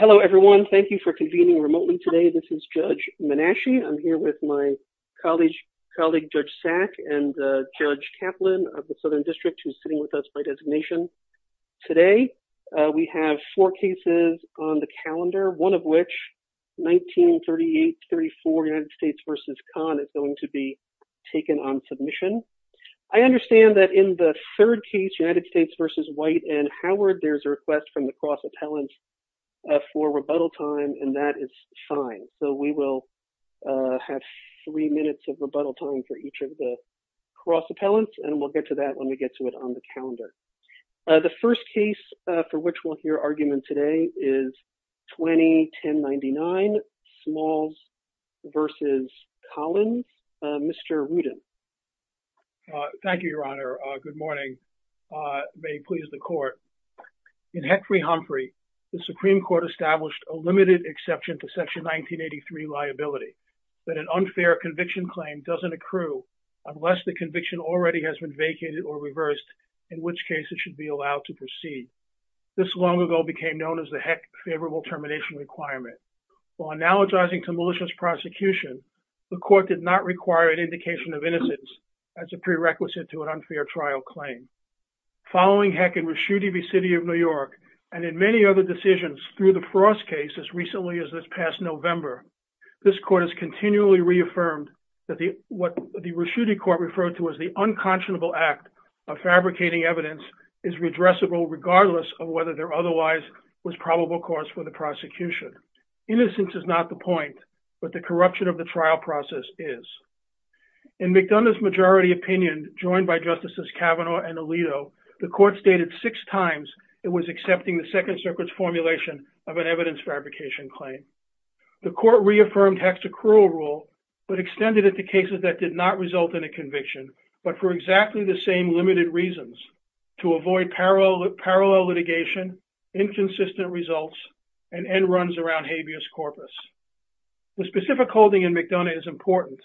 Hello, everyone. Thank you for convening remotely today. This is Judge Menashe. I'm here with my colleague, Judge Sack, and Judge Kaplan of the Southern District, who's sitting with us by designation. Today, we have four cases on the calendar, one of which, 1938-34, United States v. Khan, is going to be taken on submission. I understand that in the third case, United and that is fine. So, we will have three minutes of rebuttal time for each of the cross-appellants, and we'll get to that when we get to it on the calendar. The first case for which we'll hear argument today is 2010-99, Smalls v. Collins. Mr. Rudin. Thank you, Your Honor. Good morning. May it please the Court. In Hickory-Humphrey, the court established a limited exception to Section 1983 liability, that an unfair conviction claim doesn't accrue unless the conviction already has been vacated or reversed, in which case it should be allowed to proceed. This long ago became known as the Heck favorable termination requirement. While analogizing to malicious prosecution, the court did not require an indication of innocence as a prerequisite to an unfair trial claim. Following Heck and Rusciuti v. City of New York, and in many other decisions through the Frost case as recently as this past November, this court has continually reaffirmed that what the Rusciuti Court referred to as the unconscionable act of fabricating evidence is redressable regardless of whether there otherwise was probable cause for the prosecution. Innocence is not the point, but the corruption of the trial process is. In McDonough's majority opinion, joined by Justices Kavanaugh and Alito, the court stated six times it was accepting the Second Circuit's formulation of an evidence fabrication claim. The court reaffirmed Heck's accrual rule, but extended it to cases that did not result in a conviction, but for exactly the same limited reasons, to avoid parallel litigation, inconsistent results, and end runs around habeas corpus. The specific holding in McDonough is important.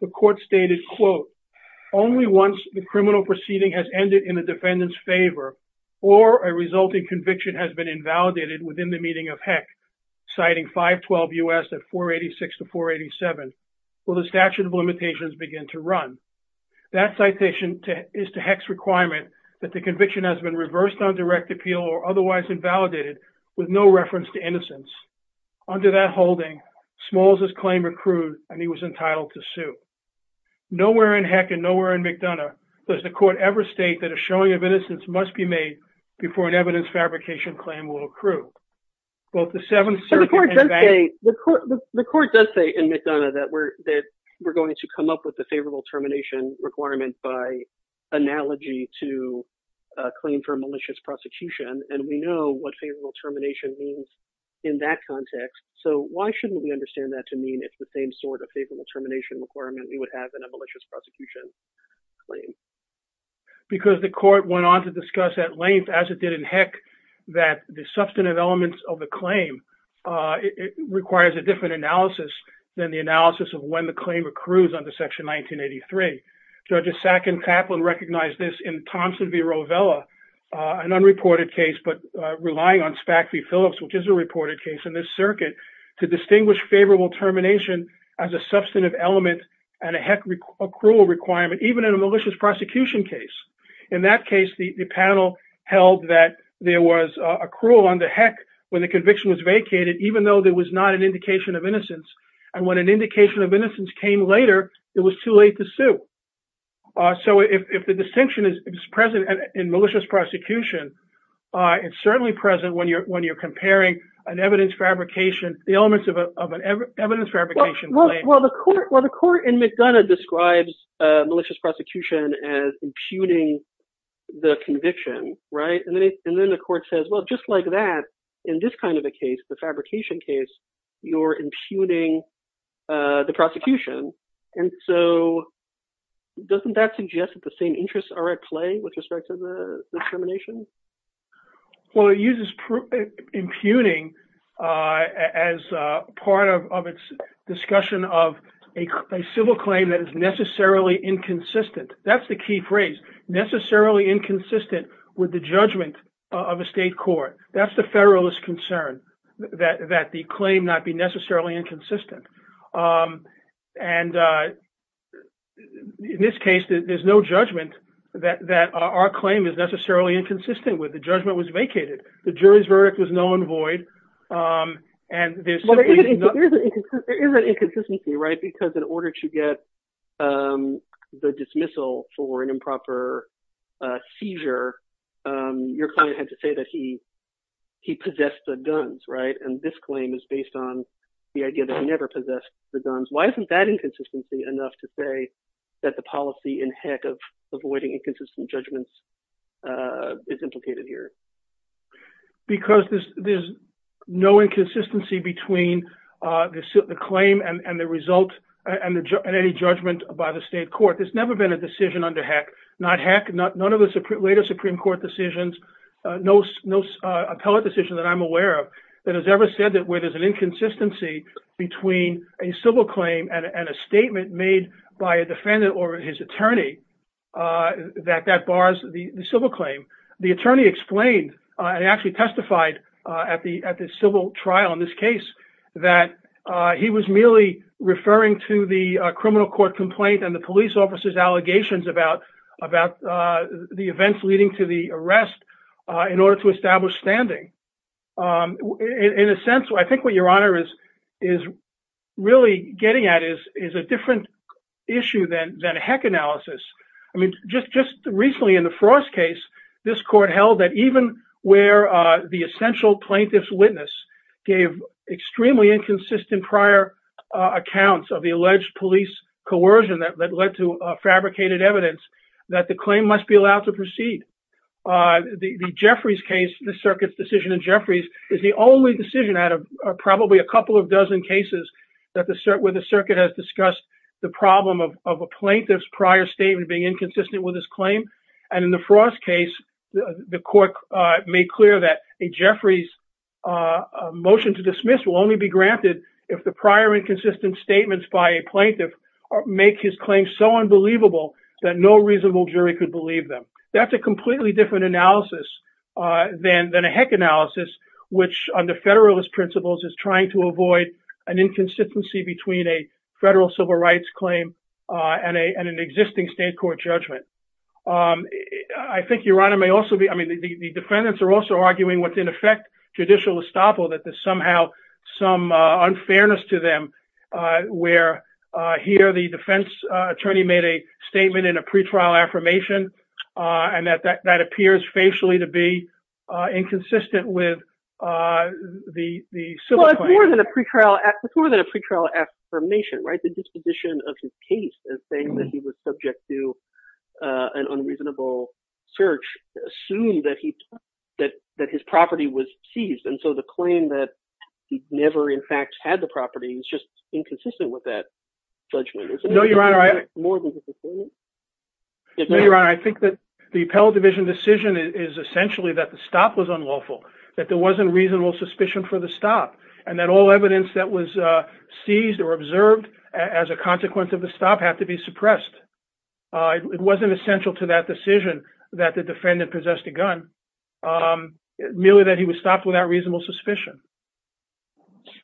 The court stated, quote, only once the criminal proceeding has ended in the defendant's favor or a resulting conviction has been invalidated within the meeting of Heck, citing 512 U.S. at 486 to 487, will the statute of limitations begin to run. That citation is to Heck's requirement that the conviction has been reversed on direct appeal or otherwise invalidated with no reference to innocence. Under that holding, Smalls' claim accrued, and he was entitled to sue. Nowhere in Heck and nowhere in McDonough does the court ever state that a showing of innocence must be made before an evidence fabrication claim will accrue. Both the Seventh Circuit and Beck... The court does say in McDonough that we're going to come up with a favorable termination requirement by analogy to a claim for malicious prosecution, and we know what favorable termination means in that context, so why shouldn't we understand that to mean it's the same sort of favorable termination requirement we would have in a malicious prosecution claim? Because the court went on to discuss at length, as it did in Heck, that the substantive elements of the claim requires a different analysis than the analysis of when the claim accrues under Section 1983. Judges Sack and Kaplan recognized this in Thompson v. Rovella, an unreported case, but relying on Spack v. Phillips, which is a reported case in this circuit, to distinguish favorable termination as a substantive element and a Heck accrual requirement, even in a malicious prosecution case. In that case, the panel held that there was accrual under Heck when the conviction was vacated, even though there was not an indication of innocence, and when an indication of innocence came later, it was too late to sue. So if the distinction is present in malicious prosecution, it's certainly present when you're the elements of an evidence fabrication claim. Well, the court in McDonough describes malicious prosecution as impugning the conviction, right? And then the court says, well, just like that, in this kind of a case, the fabrication case, you're impugning the prosecution. And so doesn't that suggest that the same interests are at play with respect to the termination? Well, it uses impugning as part of its discussion of a civil claim that is necessarily inconsistent. That's the key phrase, necessarily inconsistent with the judgment of a state court. That's the Federalist concern, that the claim not be necessarily inconsistent. And in this case, there's no judgment that our claim is necessarily inconsistent with. The judgment was vacated. The jury's verdict was known and void. There is an inconsistency, right? Because in order to get the dismissal for an improper seizure, your client had to say that he possessed the guns, right? And this claim is based on the idea that he never possessed the guns. Why isn't that inconsistency enough to say that the policy in HECC of avoiding inconsistent judgments is implicated here? Because there's no inconsistency between the claim and the result and any judgment by the state court. There's never been a decision under HECC, not HECC, none of the later Supreme Court decisions, no appellate decision that I'm aware of that has ever said that where there's an inconsistency between a civil claim and a statement made by a defendant or his attorney that that bars the civil claim. The attorney explained and actually testified at the civil trial in this case that he was merely referring to the criminal court complaint and the police officer's allegations about the events leading to the arrest in order to establish standing. In a sense, I think what Your Honor is really getting at is a different issue than HECC analysis. I mean, just recently in the Frost case, this court held that even where the essential plaintiff's witness gave extremely inconsistent prior accounts of the alleged police coercion that led to fabricated evidence, that the claim must be allowed to proceed. The Jeffries case, the circuit's decision in Jeffries, is the only decision out of probably a couple of dozen cases where the circuit has discussed the problem of a plaintiff's prior statement being inconsistent with his claim. And in the Frost case, the court made clear that a Jeffries motion to dismiss will only be granted if the prior inconsistent statements by a plaintiff make his claim so unbelievable that no reasonable jury could believe them. That's a completely different analysis than a HECC analysis, which under federalist principles is trying to avoid an inconsistency between a federal civil rights claim and an existing state court judgment. I think Your Honor may also be, I mean, the defendants are also arguing what's in effect judicial estoppel, that there's somehow some unfairness to them where here the defense attorney made a statement in a pretrial affirmation and that appears facially to be inconsistent with the civil claim. Well, it's more than a pretrial affirmation, right? The disposition of his case as saying that he was subject to an unreasonable search assumed that his property was seized. And so the claim that he never in fact had the property is just inconsistent with that judgment. No, Your Honor, I think that the appellate division decision is essentially that the stop was unlawful, that there wasn't reasonable suspicion for the stop, and that all evidence that was seized or observed as a consequence of the stop had to be suppressed. It wasn't essential to that decision that the defendant possessed a gun, merely that he was stopped without reasonable suspicion.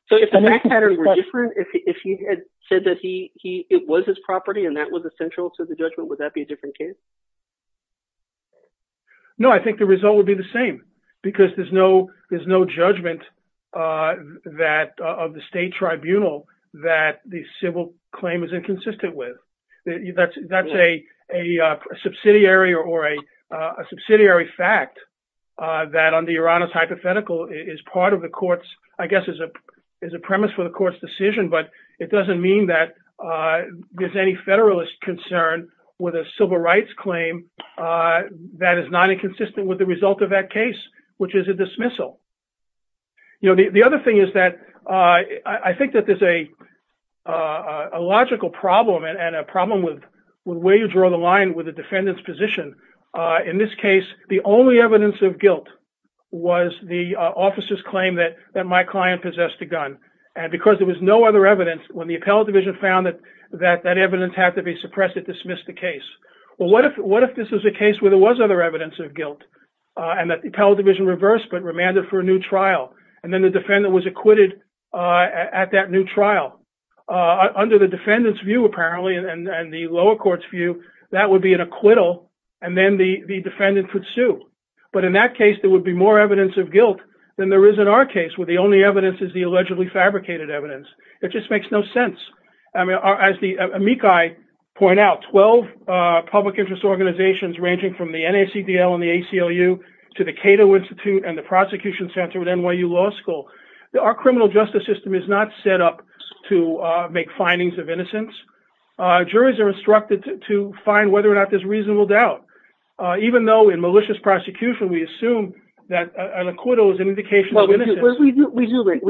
So if the fact patterns were different, if he had said that it was his property and that was essential to the judgment, would that be a different case? No, I think the result would be the same because there's no judgment of the state tribunal that the civil claim is inconsistent with. That's a subsidiary or a subsidiary fact that under Your Honor's hypothetical is part of the court's, I guess is a premise for the court's decision, but it doesn't mean that there's any federalist concern with a civil rights claim that is not inconsistent with the result of that case, which is a dismissal. The other thing is that I think that there's a logical problem and a problem with where you draw the line with the defendant's position. In this case, the only evidence of guilt was the officer's claim that my client possessed a gun. And because there was no other evidence, when the appellate division found that that evidence had to be suppressed, it dismissed the case. Well, what if this is a case where there was other evidence of guilt and that the appellate division reversed but remanded for a new trial, and then the defendant was acquitted at that new trial? Under the defendant's view, apparently, and the lower court's view, that would be an acquittal, and then the defendant could sue. But in that case, there would be more evidence of guilt than there is in our case, where the only evidence is the allegedly fabricated evidence. It just makes no sense. As the amici point out, 12 public interest organizations, ranging from the NACDL and the ACLU to the Cato Institute and the Prosecution Center at NYU Law School, our criminal justice system is not set up to make findings of innocence. Juries are instructed to find whether or not there's reasonable doubt. Even though in malicious prosecution, we assume that an acquittal is an indication of innocence. Well, we do in a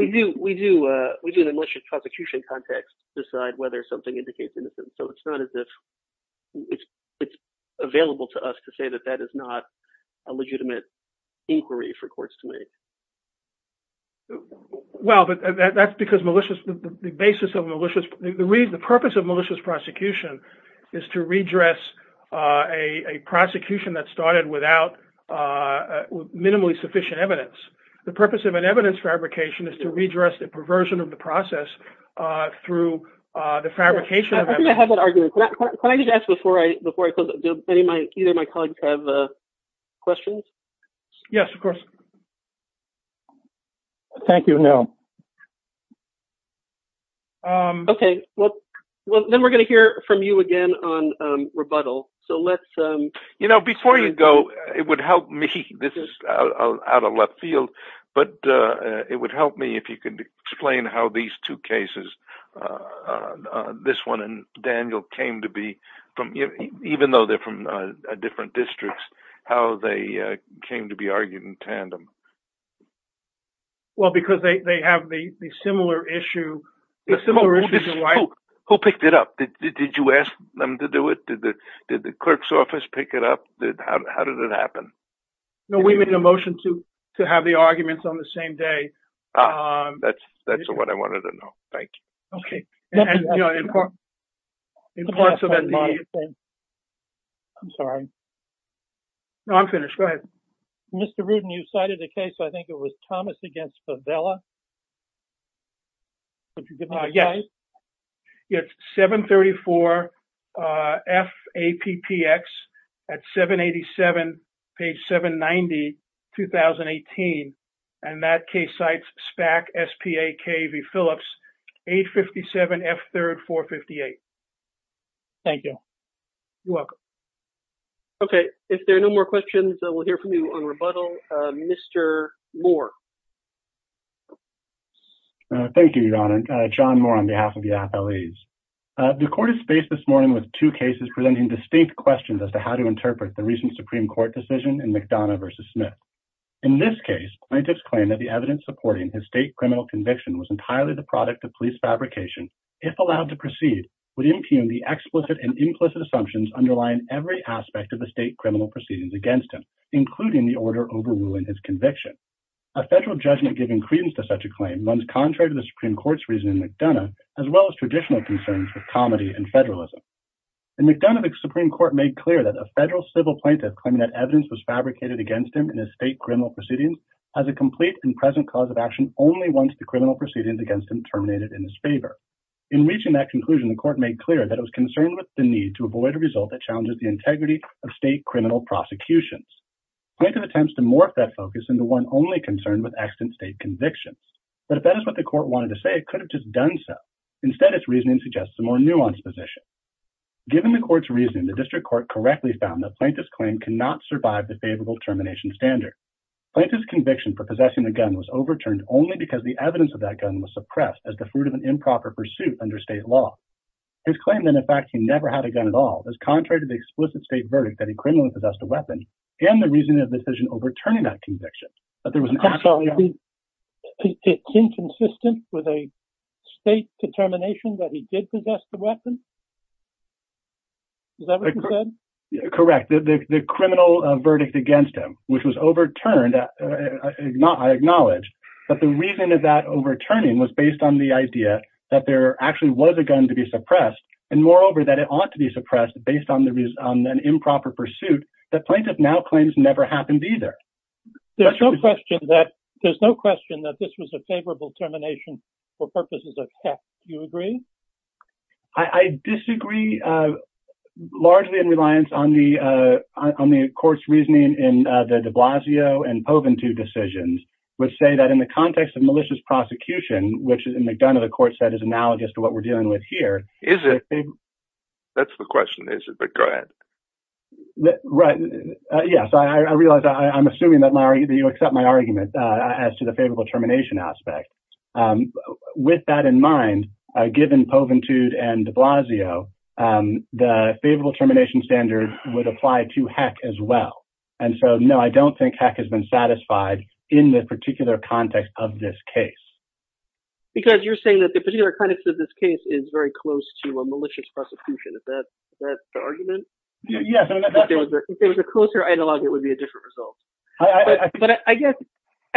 malicious prosecution context decide whether something indicates innocence. So it's not as if it's available to us to say that that is not a legitimate inquiry for courts to make. Well, that's because the purpose of malicious prosecution is to redress a prosecution that started without minimally sufficient evidence. The purpose of an evidence fabrication is to redress the perversion of the process through the fabrication of evidence. I think I have an argument. Can I just ask before I close, do either of my colleagues have questions? Yes, of course. Thank you. No. OK, well, then we're going to hear from you again on rebuttal. So let's you know, before you go, it would help me. This is out of left field, but it would help me if you could explain how these two cases, this one and Daniel, came to be. Even though they're from different districts, how they came to be argued in tandem. Well, because they have the similar issue. Who picked it up? Did you ask them to do it? Did the clerk's office pick it up? How did it happen? We made a motion to have the arguments on the same day. That's what I wanted to know. Thank you. OK. I'm sorry. No, I'm finished. Mr. Rudin, you cited a case. I think it was Thomas against Favela. Yes. It's 734. F. A. P. P. X. At 787. Page 790. 2018. And that case sites SPAC. S. P. A. K. V. Phillips. 857. F. 3rd. 458. Thank you. Welcome. OK. If there are no more questions, we'll hear from you on rebuttal. Mr. Moore. Thank you. Thank you. Thank you. Thank you. Thank you. Thank you. Thank you. Thank you. John more on behalf of the FLEs. The court has faced this morning with two cases. Presenting distinct questions as to how to interpret the recent Supreme Court decision and McDonough versus Smith. In this case. I just claim that the evidence supporting his state criminal conviction was entirely the product of police fabrication. If allowed to proceed. Would impugn the explicit and implicit assumptions underlying every aspect of the state criminal proceedings against him, including the order overruling his conviction. A federal judgment giving credence to such a claim runs contrary to the Supreme court's reasoning, McDonough, as well as traditional concerns with comedy and federalism. And McDonough, the Supreme court made clear that a federal civil plaintiff claiming that evidence was fabricated against him in his state criminal proceedings. As a complete and present cause of action. Only once the criminal proceedings against him terminated in his favor. In reaching that conclusion, the court made clear that it was concerned with the need to avoid a result that challenges the integrity of state criminal prosecutions. Plenty of attempts to morph that focus into one only concerned with accident state convictions. But if that is what the court wanted to say, it could have just done stuff. Instead, it's reasoning suggests a more nuanced position. Given the court's reasoning, the district court correctly found that plaintiff's claim cannot survive the favorable termination standard. Plaintiff's conviction for possessing the gun was overturned only because the evidence of that gun was suppressed as the fruit of an improper pursuit under state law. His claim that in fact he never had a gun at all is contrary to the explicit state verdict that he criminally possessed a weapon and the reasoning of the decision overturning that conviction. But there was an. It's inconsistent with a state determination that he did possess the weapon. Is that what you said? Correct. The criminal verdict against him, which was overturned. I acknowledge that the reason of that overturning was based on the idea that there actually was a gun to be suppressed. And moreover, that it ought to be suppressed based on the reason on an improper pursuit that plaintiff now claims never happened either. There's no question that there's no question that this was a favorable termination for purposes of. You agree. I disagree. Largely in reliance on the. On the court's reasoning in the de Blasio and Poven to decisions, which say that in the context of malicious prosecution, which is in McDonough, the court said is analogous to what we're dealing with here. Is it. That's the question. Is it. But go ahead. Right. Yeah. So I realize I'm assuming that Larry, do you accept my argument as to the favorable termination aspect? With that in mind, given Poven to and de Blasio, the favorable termination standard would apply to HEC as well. And so, no, I don't think HEC has been satisfied in the particular context of this case. Because you're saying that the particular context of this case is very close to a malicious prosecution. Is that the argument? Yes. If there was a closer analog, it would be a different result. But I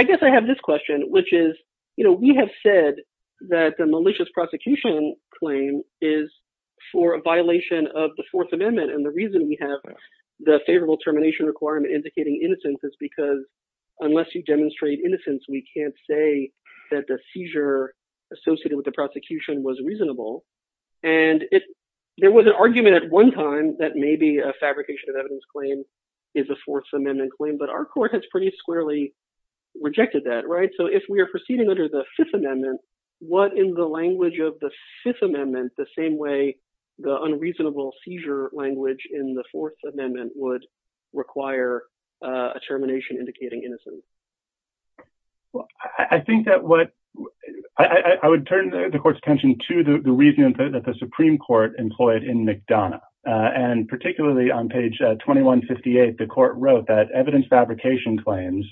guess I have this question, which is, you know, we have said that the malicious prosecution claim is for a violation of the fourth amendment. And the reason we have the favorable termination requirement indicating innocence is because unless you demonstrate innocence, we can't say that the seizure associated with the prosecution was reasonable. And there was an argument at one time that maybe a fabrication of evidence claim is a fourth amendment claim, but our court has pretty squarely rejected that. Right. So if we are proceeding under the fifth amendment, what in the language of the fifth amendment, the same way the unreasonable seizure language in the fourth amendment would require a termination indicating innocence. I think that what I would turn the court's attention to the reason that the Supreme court employed in McDonough and particularly on page 2158, the court wrote that evidence fabrication claims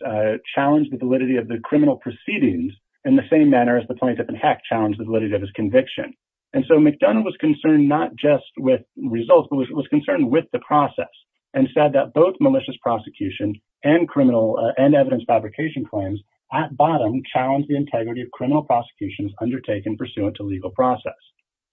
challenged the validity of the criminal proceedings in the same manner as the plaintiff in HEC challenged the validity of his conviction. And so McDonough was concerned, not just with results, but was concerned with the process and said that both malicious prosecution and criminal and evidence fabrication claims at bottom challenged the integrity of criminal prosecutions undertaken pursuant to legal process.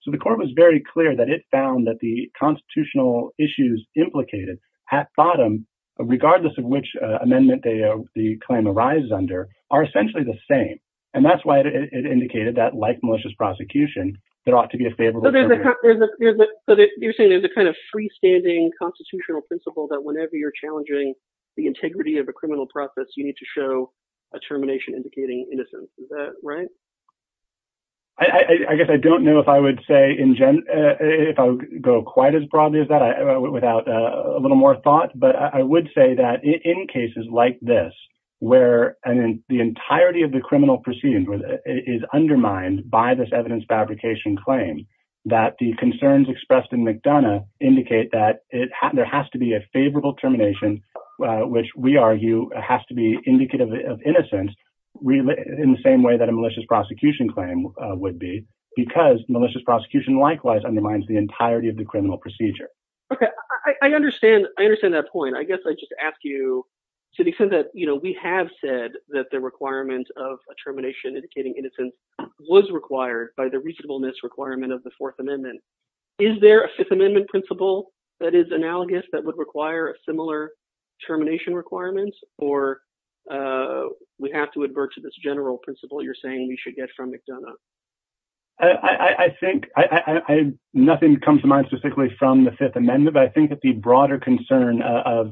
So the court was very clear that it found that the constitutional issues implicated at bottom, regardless of which amendment the claim arises under are essentially the same. And that's why it indicated that like malicious prosecution, there ought to be a favorable. So you're saying there's a kind of freestanding constitutional principle that whenever you're challenging the integrity of a criminal process, you need to show a termination indicating innocence. Is that right? I guess I don't know if I would say if I go quite as broadly as that, without a little more thought, but I would say that in cases like this where the entirety of the criminal proceedings is undermined by this evidence fabrication claim, that the concerns expressed in McDonough indicate that it has, there has to be a favorable termination, which we argue has to be indicative of innocence in the same way that a malicious prosecution claim would be because malicious prosecution, likewise undermines the entirety of the criminal procedure. Okay. I understand. I understand that point. I guess I just ask you to the extent that, you know, we have said that the requirement of a termination indicating innocence was required by the reasonableness requirement of the fourth amendment. Is there a fifth amendment principle that is analogous that would require a similar termination requirements, or we have to advert to this general principle you're saying we should get from McDonough? I think I, nothing comes to mind specifically from the fifth amendment, but I think that the broader concern of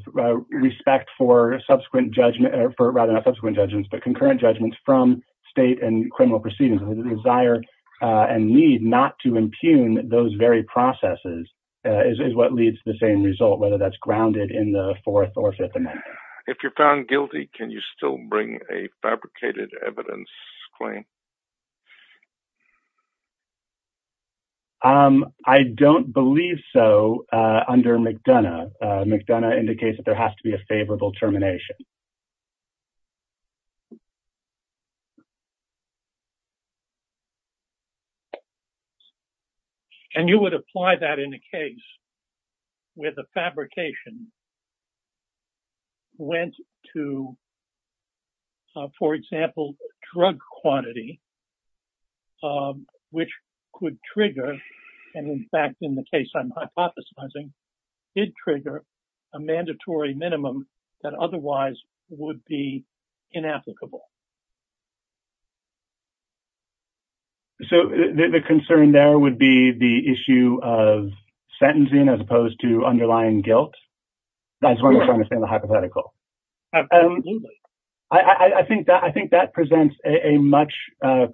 respect for subsequent judgment or for rather than subsequent judgments, but concurrent judgments from state and criminal proceedings, the desire and need not to impugn those very processes is, is what leads to the same result, whether that's grounded in the fourth or fifth amendment. If you're found guilty, can you still bring a fabricated evidence claim? I don't believe so. Under McDonough, McDonough indicates that there has to be a favorable termination. And you would apply that in a case where the fabrication went to, for example, drug quantity which could trigger. And in fact, in the case I'm hypothesizing, it trigger a mandatory minimum that otherwise would be inapplicable. So the concern there would be the issue of sentencing as opposed to underlying guilt. That's what I'm trying to say in the hypothetical. I think that, I think that presents a much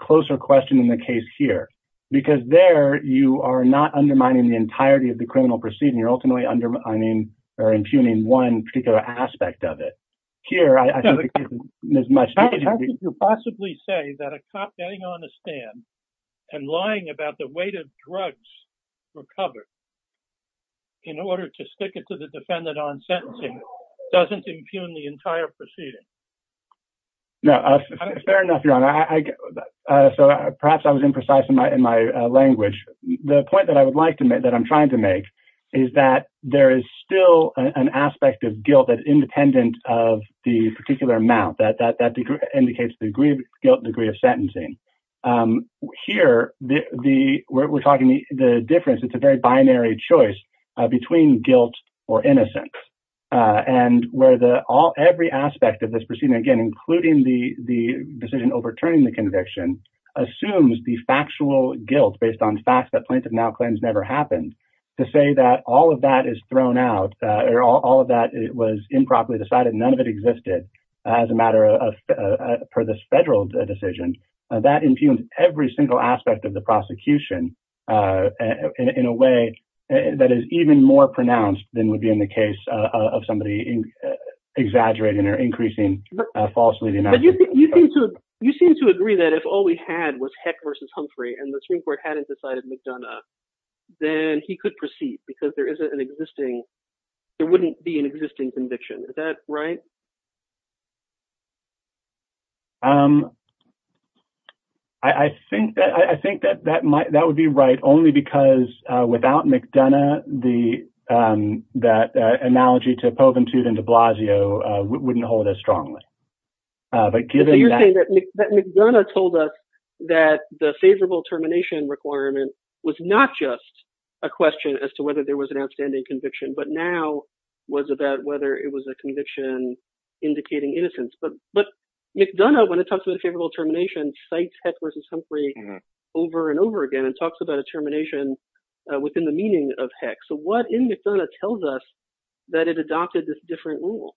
closer question in the case here, because there you are not undermining the entirety of the criminal proceeding. You're ultimately undermining, or impugning one particular aspect of it here. How could you possibly say that a cop getting on a stand and lying about the weight of drugs recovered in order to stick it to the defendant on sentencing doesn't impugn the entire proceeding? Fair enough, Your Honor. So perhaps I was imprecise in my, in my language. The point that I would like to make, that I'm trying to make is that there is still an aspect of guilt that independent of the particular amount that, that indicates the degree of guilt degree of sentencing. Here, the, the, we're talking the difference. It's a very binary choice between guilt or innocence and where the all, every aspect of this proceeding, again, including the, the decision overturning the conviction assumes the factual guilt based on facts that plaintiff now claims never happened to say that all of that is thrown out or all of that was improperly decided. None of it existed as a matter of, for this federal decision, that impugned every single aspect of the prosecution in a way that is even more pronounced than would be in the case of somebody exaggerating or increasing falsely. You seem to agree that if all we had was heck versus Humphrey and the Supreme Court and McDonough, then he could proceed because there isn't an existing, there wouldn't be an existing conviction. Is that right? I think that, I think that, that might, that would be right. Only because without McDonough, the, that analogy to Poventute and de Blasio wouldn't hold as strongly. But given that McDonough told us that the favorable termination requirement was not just a question as to whether there was an outstanding conviction, but now was about whether it was a conviction indicating innocence. But, but McDonough, when it talks about a favorable termination sites heck versus Humphrey over and over again and talks about a termination within the meaning of heck. So what in McDonough tells us that it adopted this different rule?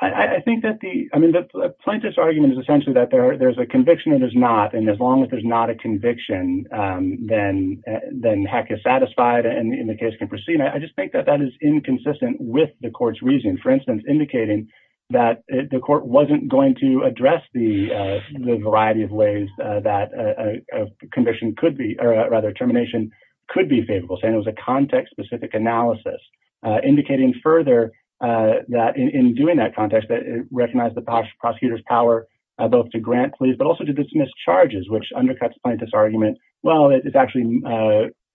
I think that the, I mean, the plaintiff's argument is essentially that there are, there's a conviction and there's not, and as long as there's not a conviction, then, then heck is satisfied. And in the case can proceed. And I just think that that is inconsistent with the court's reasoning, for instance, indicating that the court wasn't going to address the, the variety of ways that a conviction could be, or rather termination, could be favorable saying it was a context specific analysis, indicating further that in doing that context, that it recognized the prosecutor's power both to grant please, but also to dismiss charges, which undercuts plaintiff's argument. Well, it's actually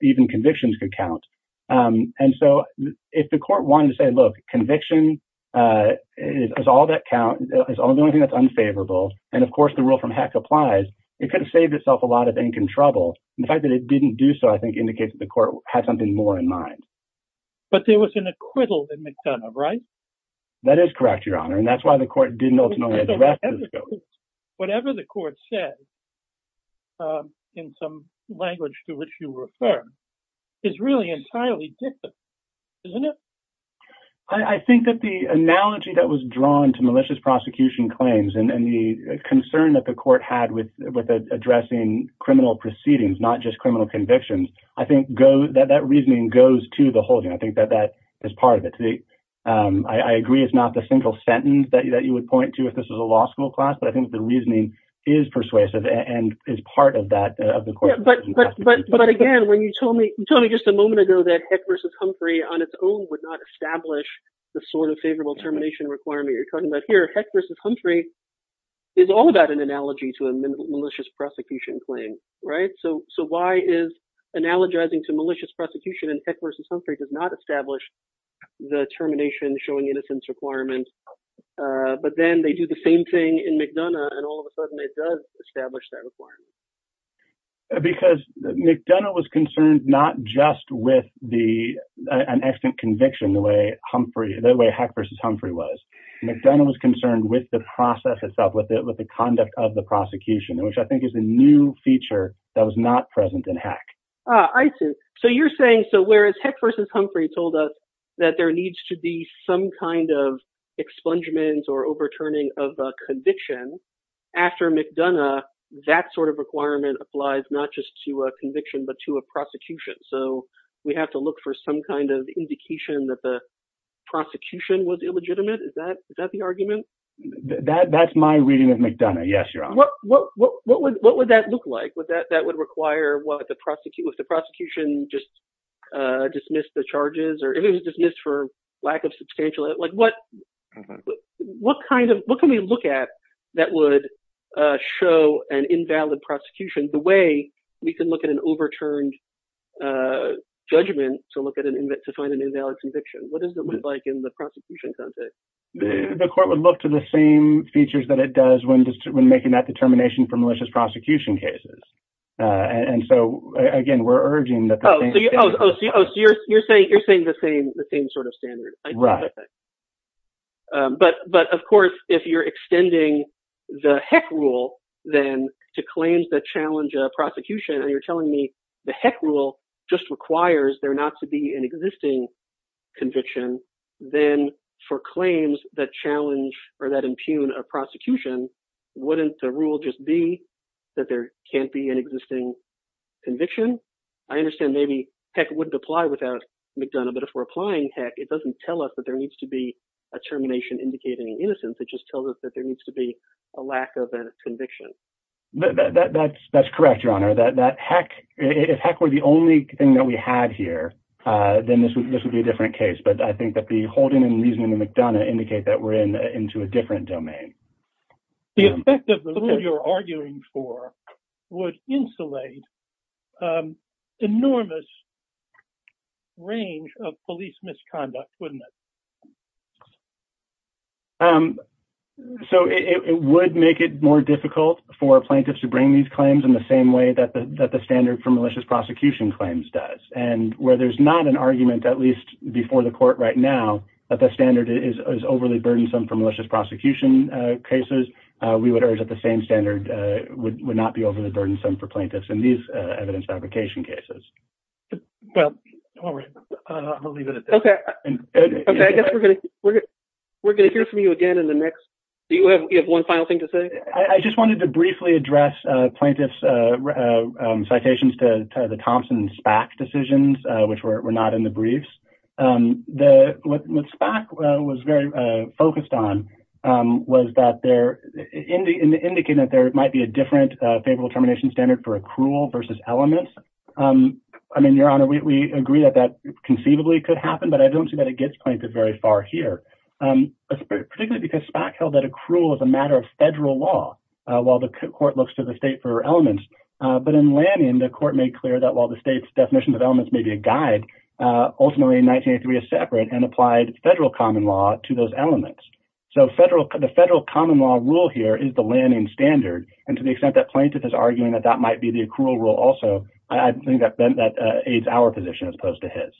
even convictions could count. And so if the court wanted to say, look, conviction is all that count. It's the only thing that's unfavorable. And of course the rule from heck applies. It could have saved itself a lot of trouble. And the fact that it didn't do so I think indicates that the court had something more in mind. But there was an acquittal in McDonough, right? That is correct. Your honor. And that's why the court didn't ultimately address whatever the court said in some language to which you refer is really entirely different. Isn't it? I think that the analogy that was drawn to malicious prosecution claims and the concern that the court had with, with addressing criminal proceedings, not just criminal convictions, I think go that, that reasoning goes to the holding. I think that that is part of it. I agree. It's not the central sentence that you, that you would point to if this was a law school class, but I think the reasoning is persuasive and is part of that, of course. But again, when you told me, you told me just a moment ago that heck versus Humphrey on its own, would not establish the sort of favorable termination requirement you're talking about here. Heck versus Humphrey is all about an analogy to a malicious prosecution claim, right? So, so why is analogizing to malicious prosecution and heck versus Humphrey does not establish the termination showing innocence requirements. But then they do the same thing in McDonough and all of a sudden it does establish that requirement. Because McDonough was concerned not just with the, an extant conviction, the way Humphrey, the way heck versus Humphrey was. McDonough was concerned with the process itself, with it, with the conduct of the prosecution, which I think is a new feature that was not present in heck. I see. So you're saying, so whereas heck versus Humphrey told us that there needs to be some kind of expungement or overturning of a conviction after McDonough, that sort of requirement applies not just to a conviction, but to a prosecution. So we have to look for some kind of indication that the prosecution was illegitimate. Is that, is that the argument? That that's my reading of McDonough. Yes, Your Honor. What, what, what, what would, what would that look like? Would that, that would require what the prosecutor, if the prosecution just dismissed the charges or if it was dismissed for lack of substantial, like what, what kind of, what can we look at that would show an invalid prosecution the way we can look at an overturned judgment to look at an invent, to find an invalid conviction? What does it look like in the prosecution context? The court would look to the same features that it does when, when making that determination for malicious prosecution cases. And so again, we're urging that. Oh, you're saying you're saying the same, the same sort of standard. Right. But, but of course, if you're extending the heck rule then to claims that challenge a prosecution and you're telling me the heck rule just requires there not to be an existing conviction, then for claims that challenge or that impugn a prosecution, wouldn't the rule just be that there can't be an existing conviction? I understand maybe heck wouldn't apply without McDonough, but if we're applying heck, it doesn't tell us that there needs to be a termination indicating innocence. It just tells us that there needs to be a lack of a conviction. That's, that's correct, Your Honor, that, that heck, if heck were the only thing that we had here, then this would, this would be a different case. But I think that the holding and reasoning of McDonough indicate that we're in, into a different domain. The effect of the rule you're arguing for would insulate enormous range of police misconduct, wouldn't it? So it would make it more difficult for plaintiffs to bring these claims in the same way that the, that the standard for malicious prosecution claims does. And where there's not an argument, at least before the court right now, that the standard is overly burdensome for malicious prosecution cases. We would urge that the same standard would not be overly burdensome for plaintiffs in these evidence fabrication cases. Well, we'll leave it at that. Okay. Okay. I guess we're going to, we're going to, we're going to hear from you again in the next, do you have one final thing to say? I just wanted to briefly address plaintiff's citations to the Thompson SPAC decisions, which were not in the briefs. What SPAC was very focused on was that there, in the indicating that there might be a different favorable termination standard for accrual versus elements. I mean, Your Honor, we agree that that conceivably could happen, but I don't see that it gets plaintiff very far here. Particularly because SPAC held that accrual is a matter of federal law while the court looks to the state for elements. But in Lanyon, the court made clear that while the state's definition of elements may be a separate and applied federal common law to those elements. So federal, the federal common law rule here is the landing standard. And to the extent that plaintiff is arguing that that might be the accrual rule also, I think that that aids our position as opposed to his.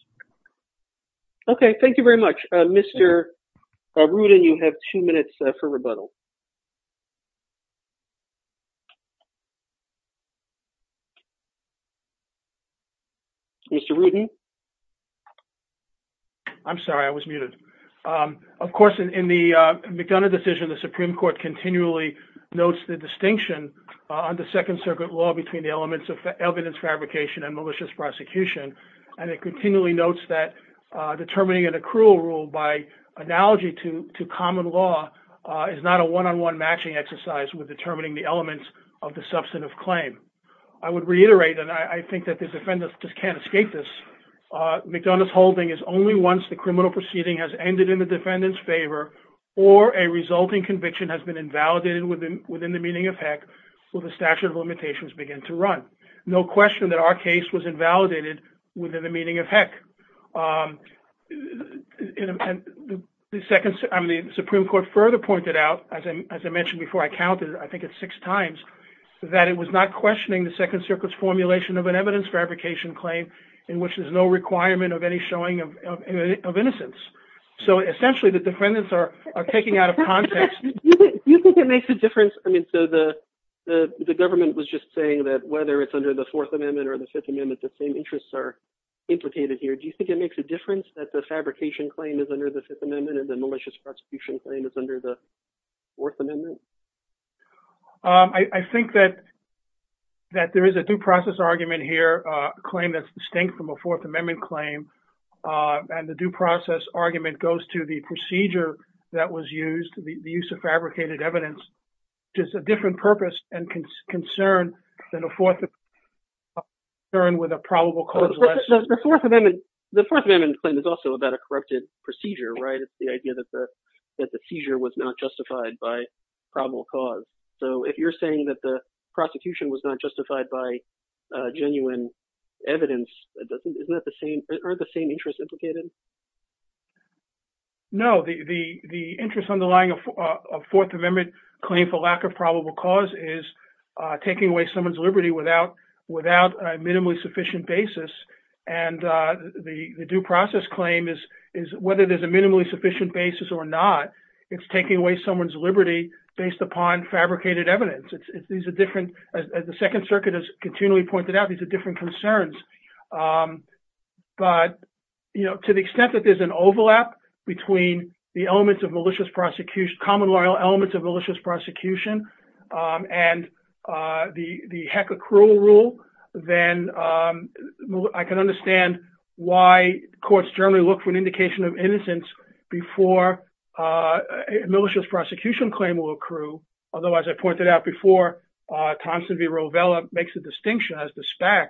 Okay. Thank you very much, Mr. Rudin. You have two minutes for rebuttal. Mr. Rudin. I'm sorry. I was muted. Of course, in the McDonough decision, the Supreme Court continually notes the distinction on the second circuit law between the elements of evidence fabrication and malicious prosecution. And it continually notes that determining an accrual rule by analogy to, to common law is not a one-on-one matching exercise with determining the elements of the substantive claim. I would reiterate, and I think that the defendants just can't escape this. McDonough's holding is only once the criminal proceeding has ended in the defendant's favor or a resulting conviction has been invalidated within, within the meaning of HEC, will the statute of limitations begin to run. No question that our case was invalidated within the meaning of HEC. The Supreme Court further pointed out, as I mentioned before, I counted I think it's six times that it was not questioning the second circuit's formulation of an evidence fabrication claim in which there's no requirement of any showing of innocence. So essentially, the defendants are taking out of context. You think it makes a difference? I mean, so the, the government was just saying that whether it's under the fourth amendment or the fifth amendment, the same interests are implicated here. Do you think it makes a difference that the fabrication claim is under the fifth amendment and the malicious prosecution claim is under the fourth amendment? I think that, that there is a due process argument here, a claim that's distinct from a fourth amendment claim. And the due process argument goes to the procedure that was used, the use of fabricated evidence, just a different purpose and concern than a fourth amendment concern with a probable cause. The fourth amendment claim is also about a corrupted procedure, right? It's the idea that the, that the seizure was not justified by probable cause. So if you're saying that the prosecution was not justified by a genuine evidence, it doesn't, isn't that the same or the same interest implicated? No, the, the, the interest underlying a fourth amendment claim for lack of probable cause is taking away someone's liberty without, without a minimally sufficient basis. And the, the due process claim is, is whether there's a minimally sufficient basis or not, it's taking away someone's liberty based upon fabricated evidence. These are different as the second circuit has continually pointed out, these are different concerns. But, you know, to the extent that there's an overlap between the elements of malicious prosecution, common law elements of malicious prosecution, and the heck accrual rule, then, I can understand why courts generally look for an indication of innocence before a malicious prosecution claim will accrue. Otherwise I pointed out before Thompson v. Mack,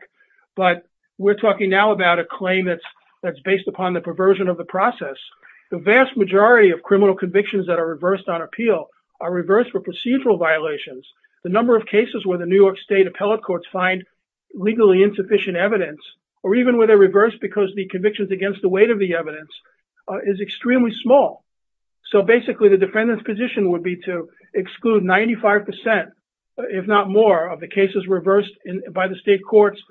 but we're talking now about a claim that's, that's based upon the perversion of the process. The vast majority of criminal convictions that are reversed on appeal are reversed for procedural violations. The number of cases where the New York state appellate courts find legally insufficient evidence, or even where they're reversed because the convictions against the weight of the evidence is extremely small. So basically the defendant's position would be to exclude 95%, if not more of the cases reversed by the state courts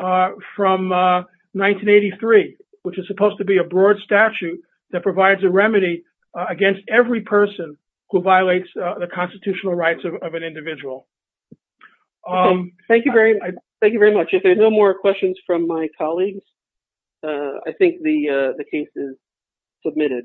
from 1983, which is supposed to be a broad statute that provides a remedy against every person who violates the constitutional rights of an individual. Thank you very much. If there's no more questions from my colleagues, I think the case is submitted.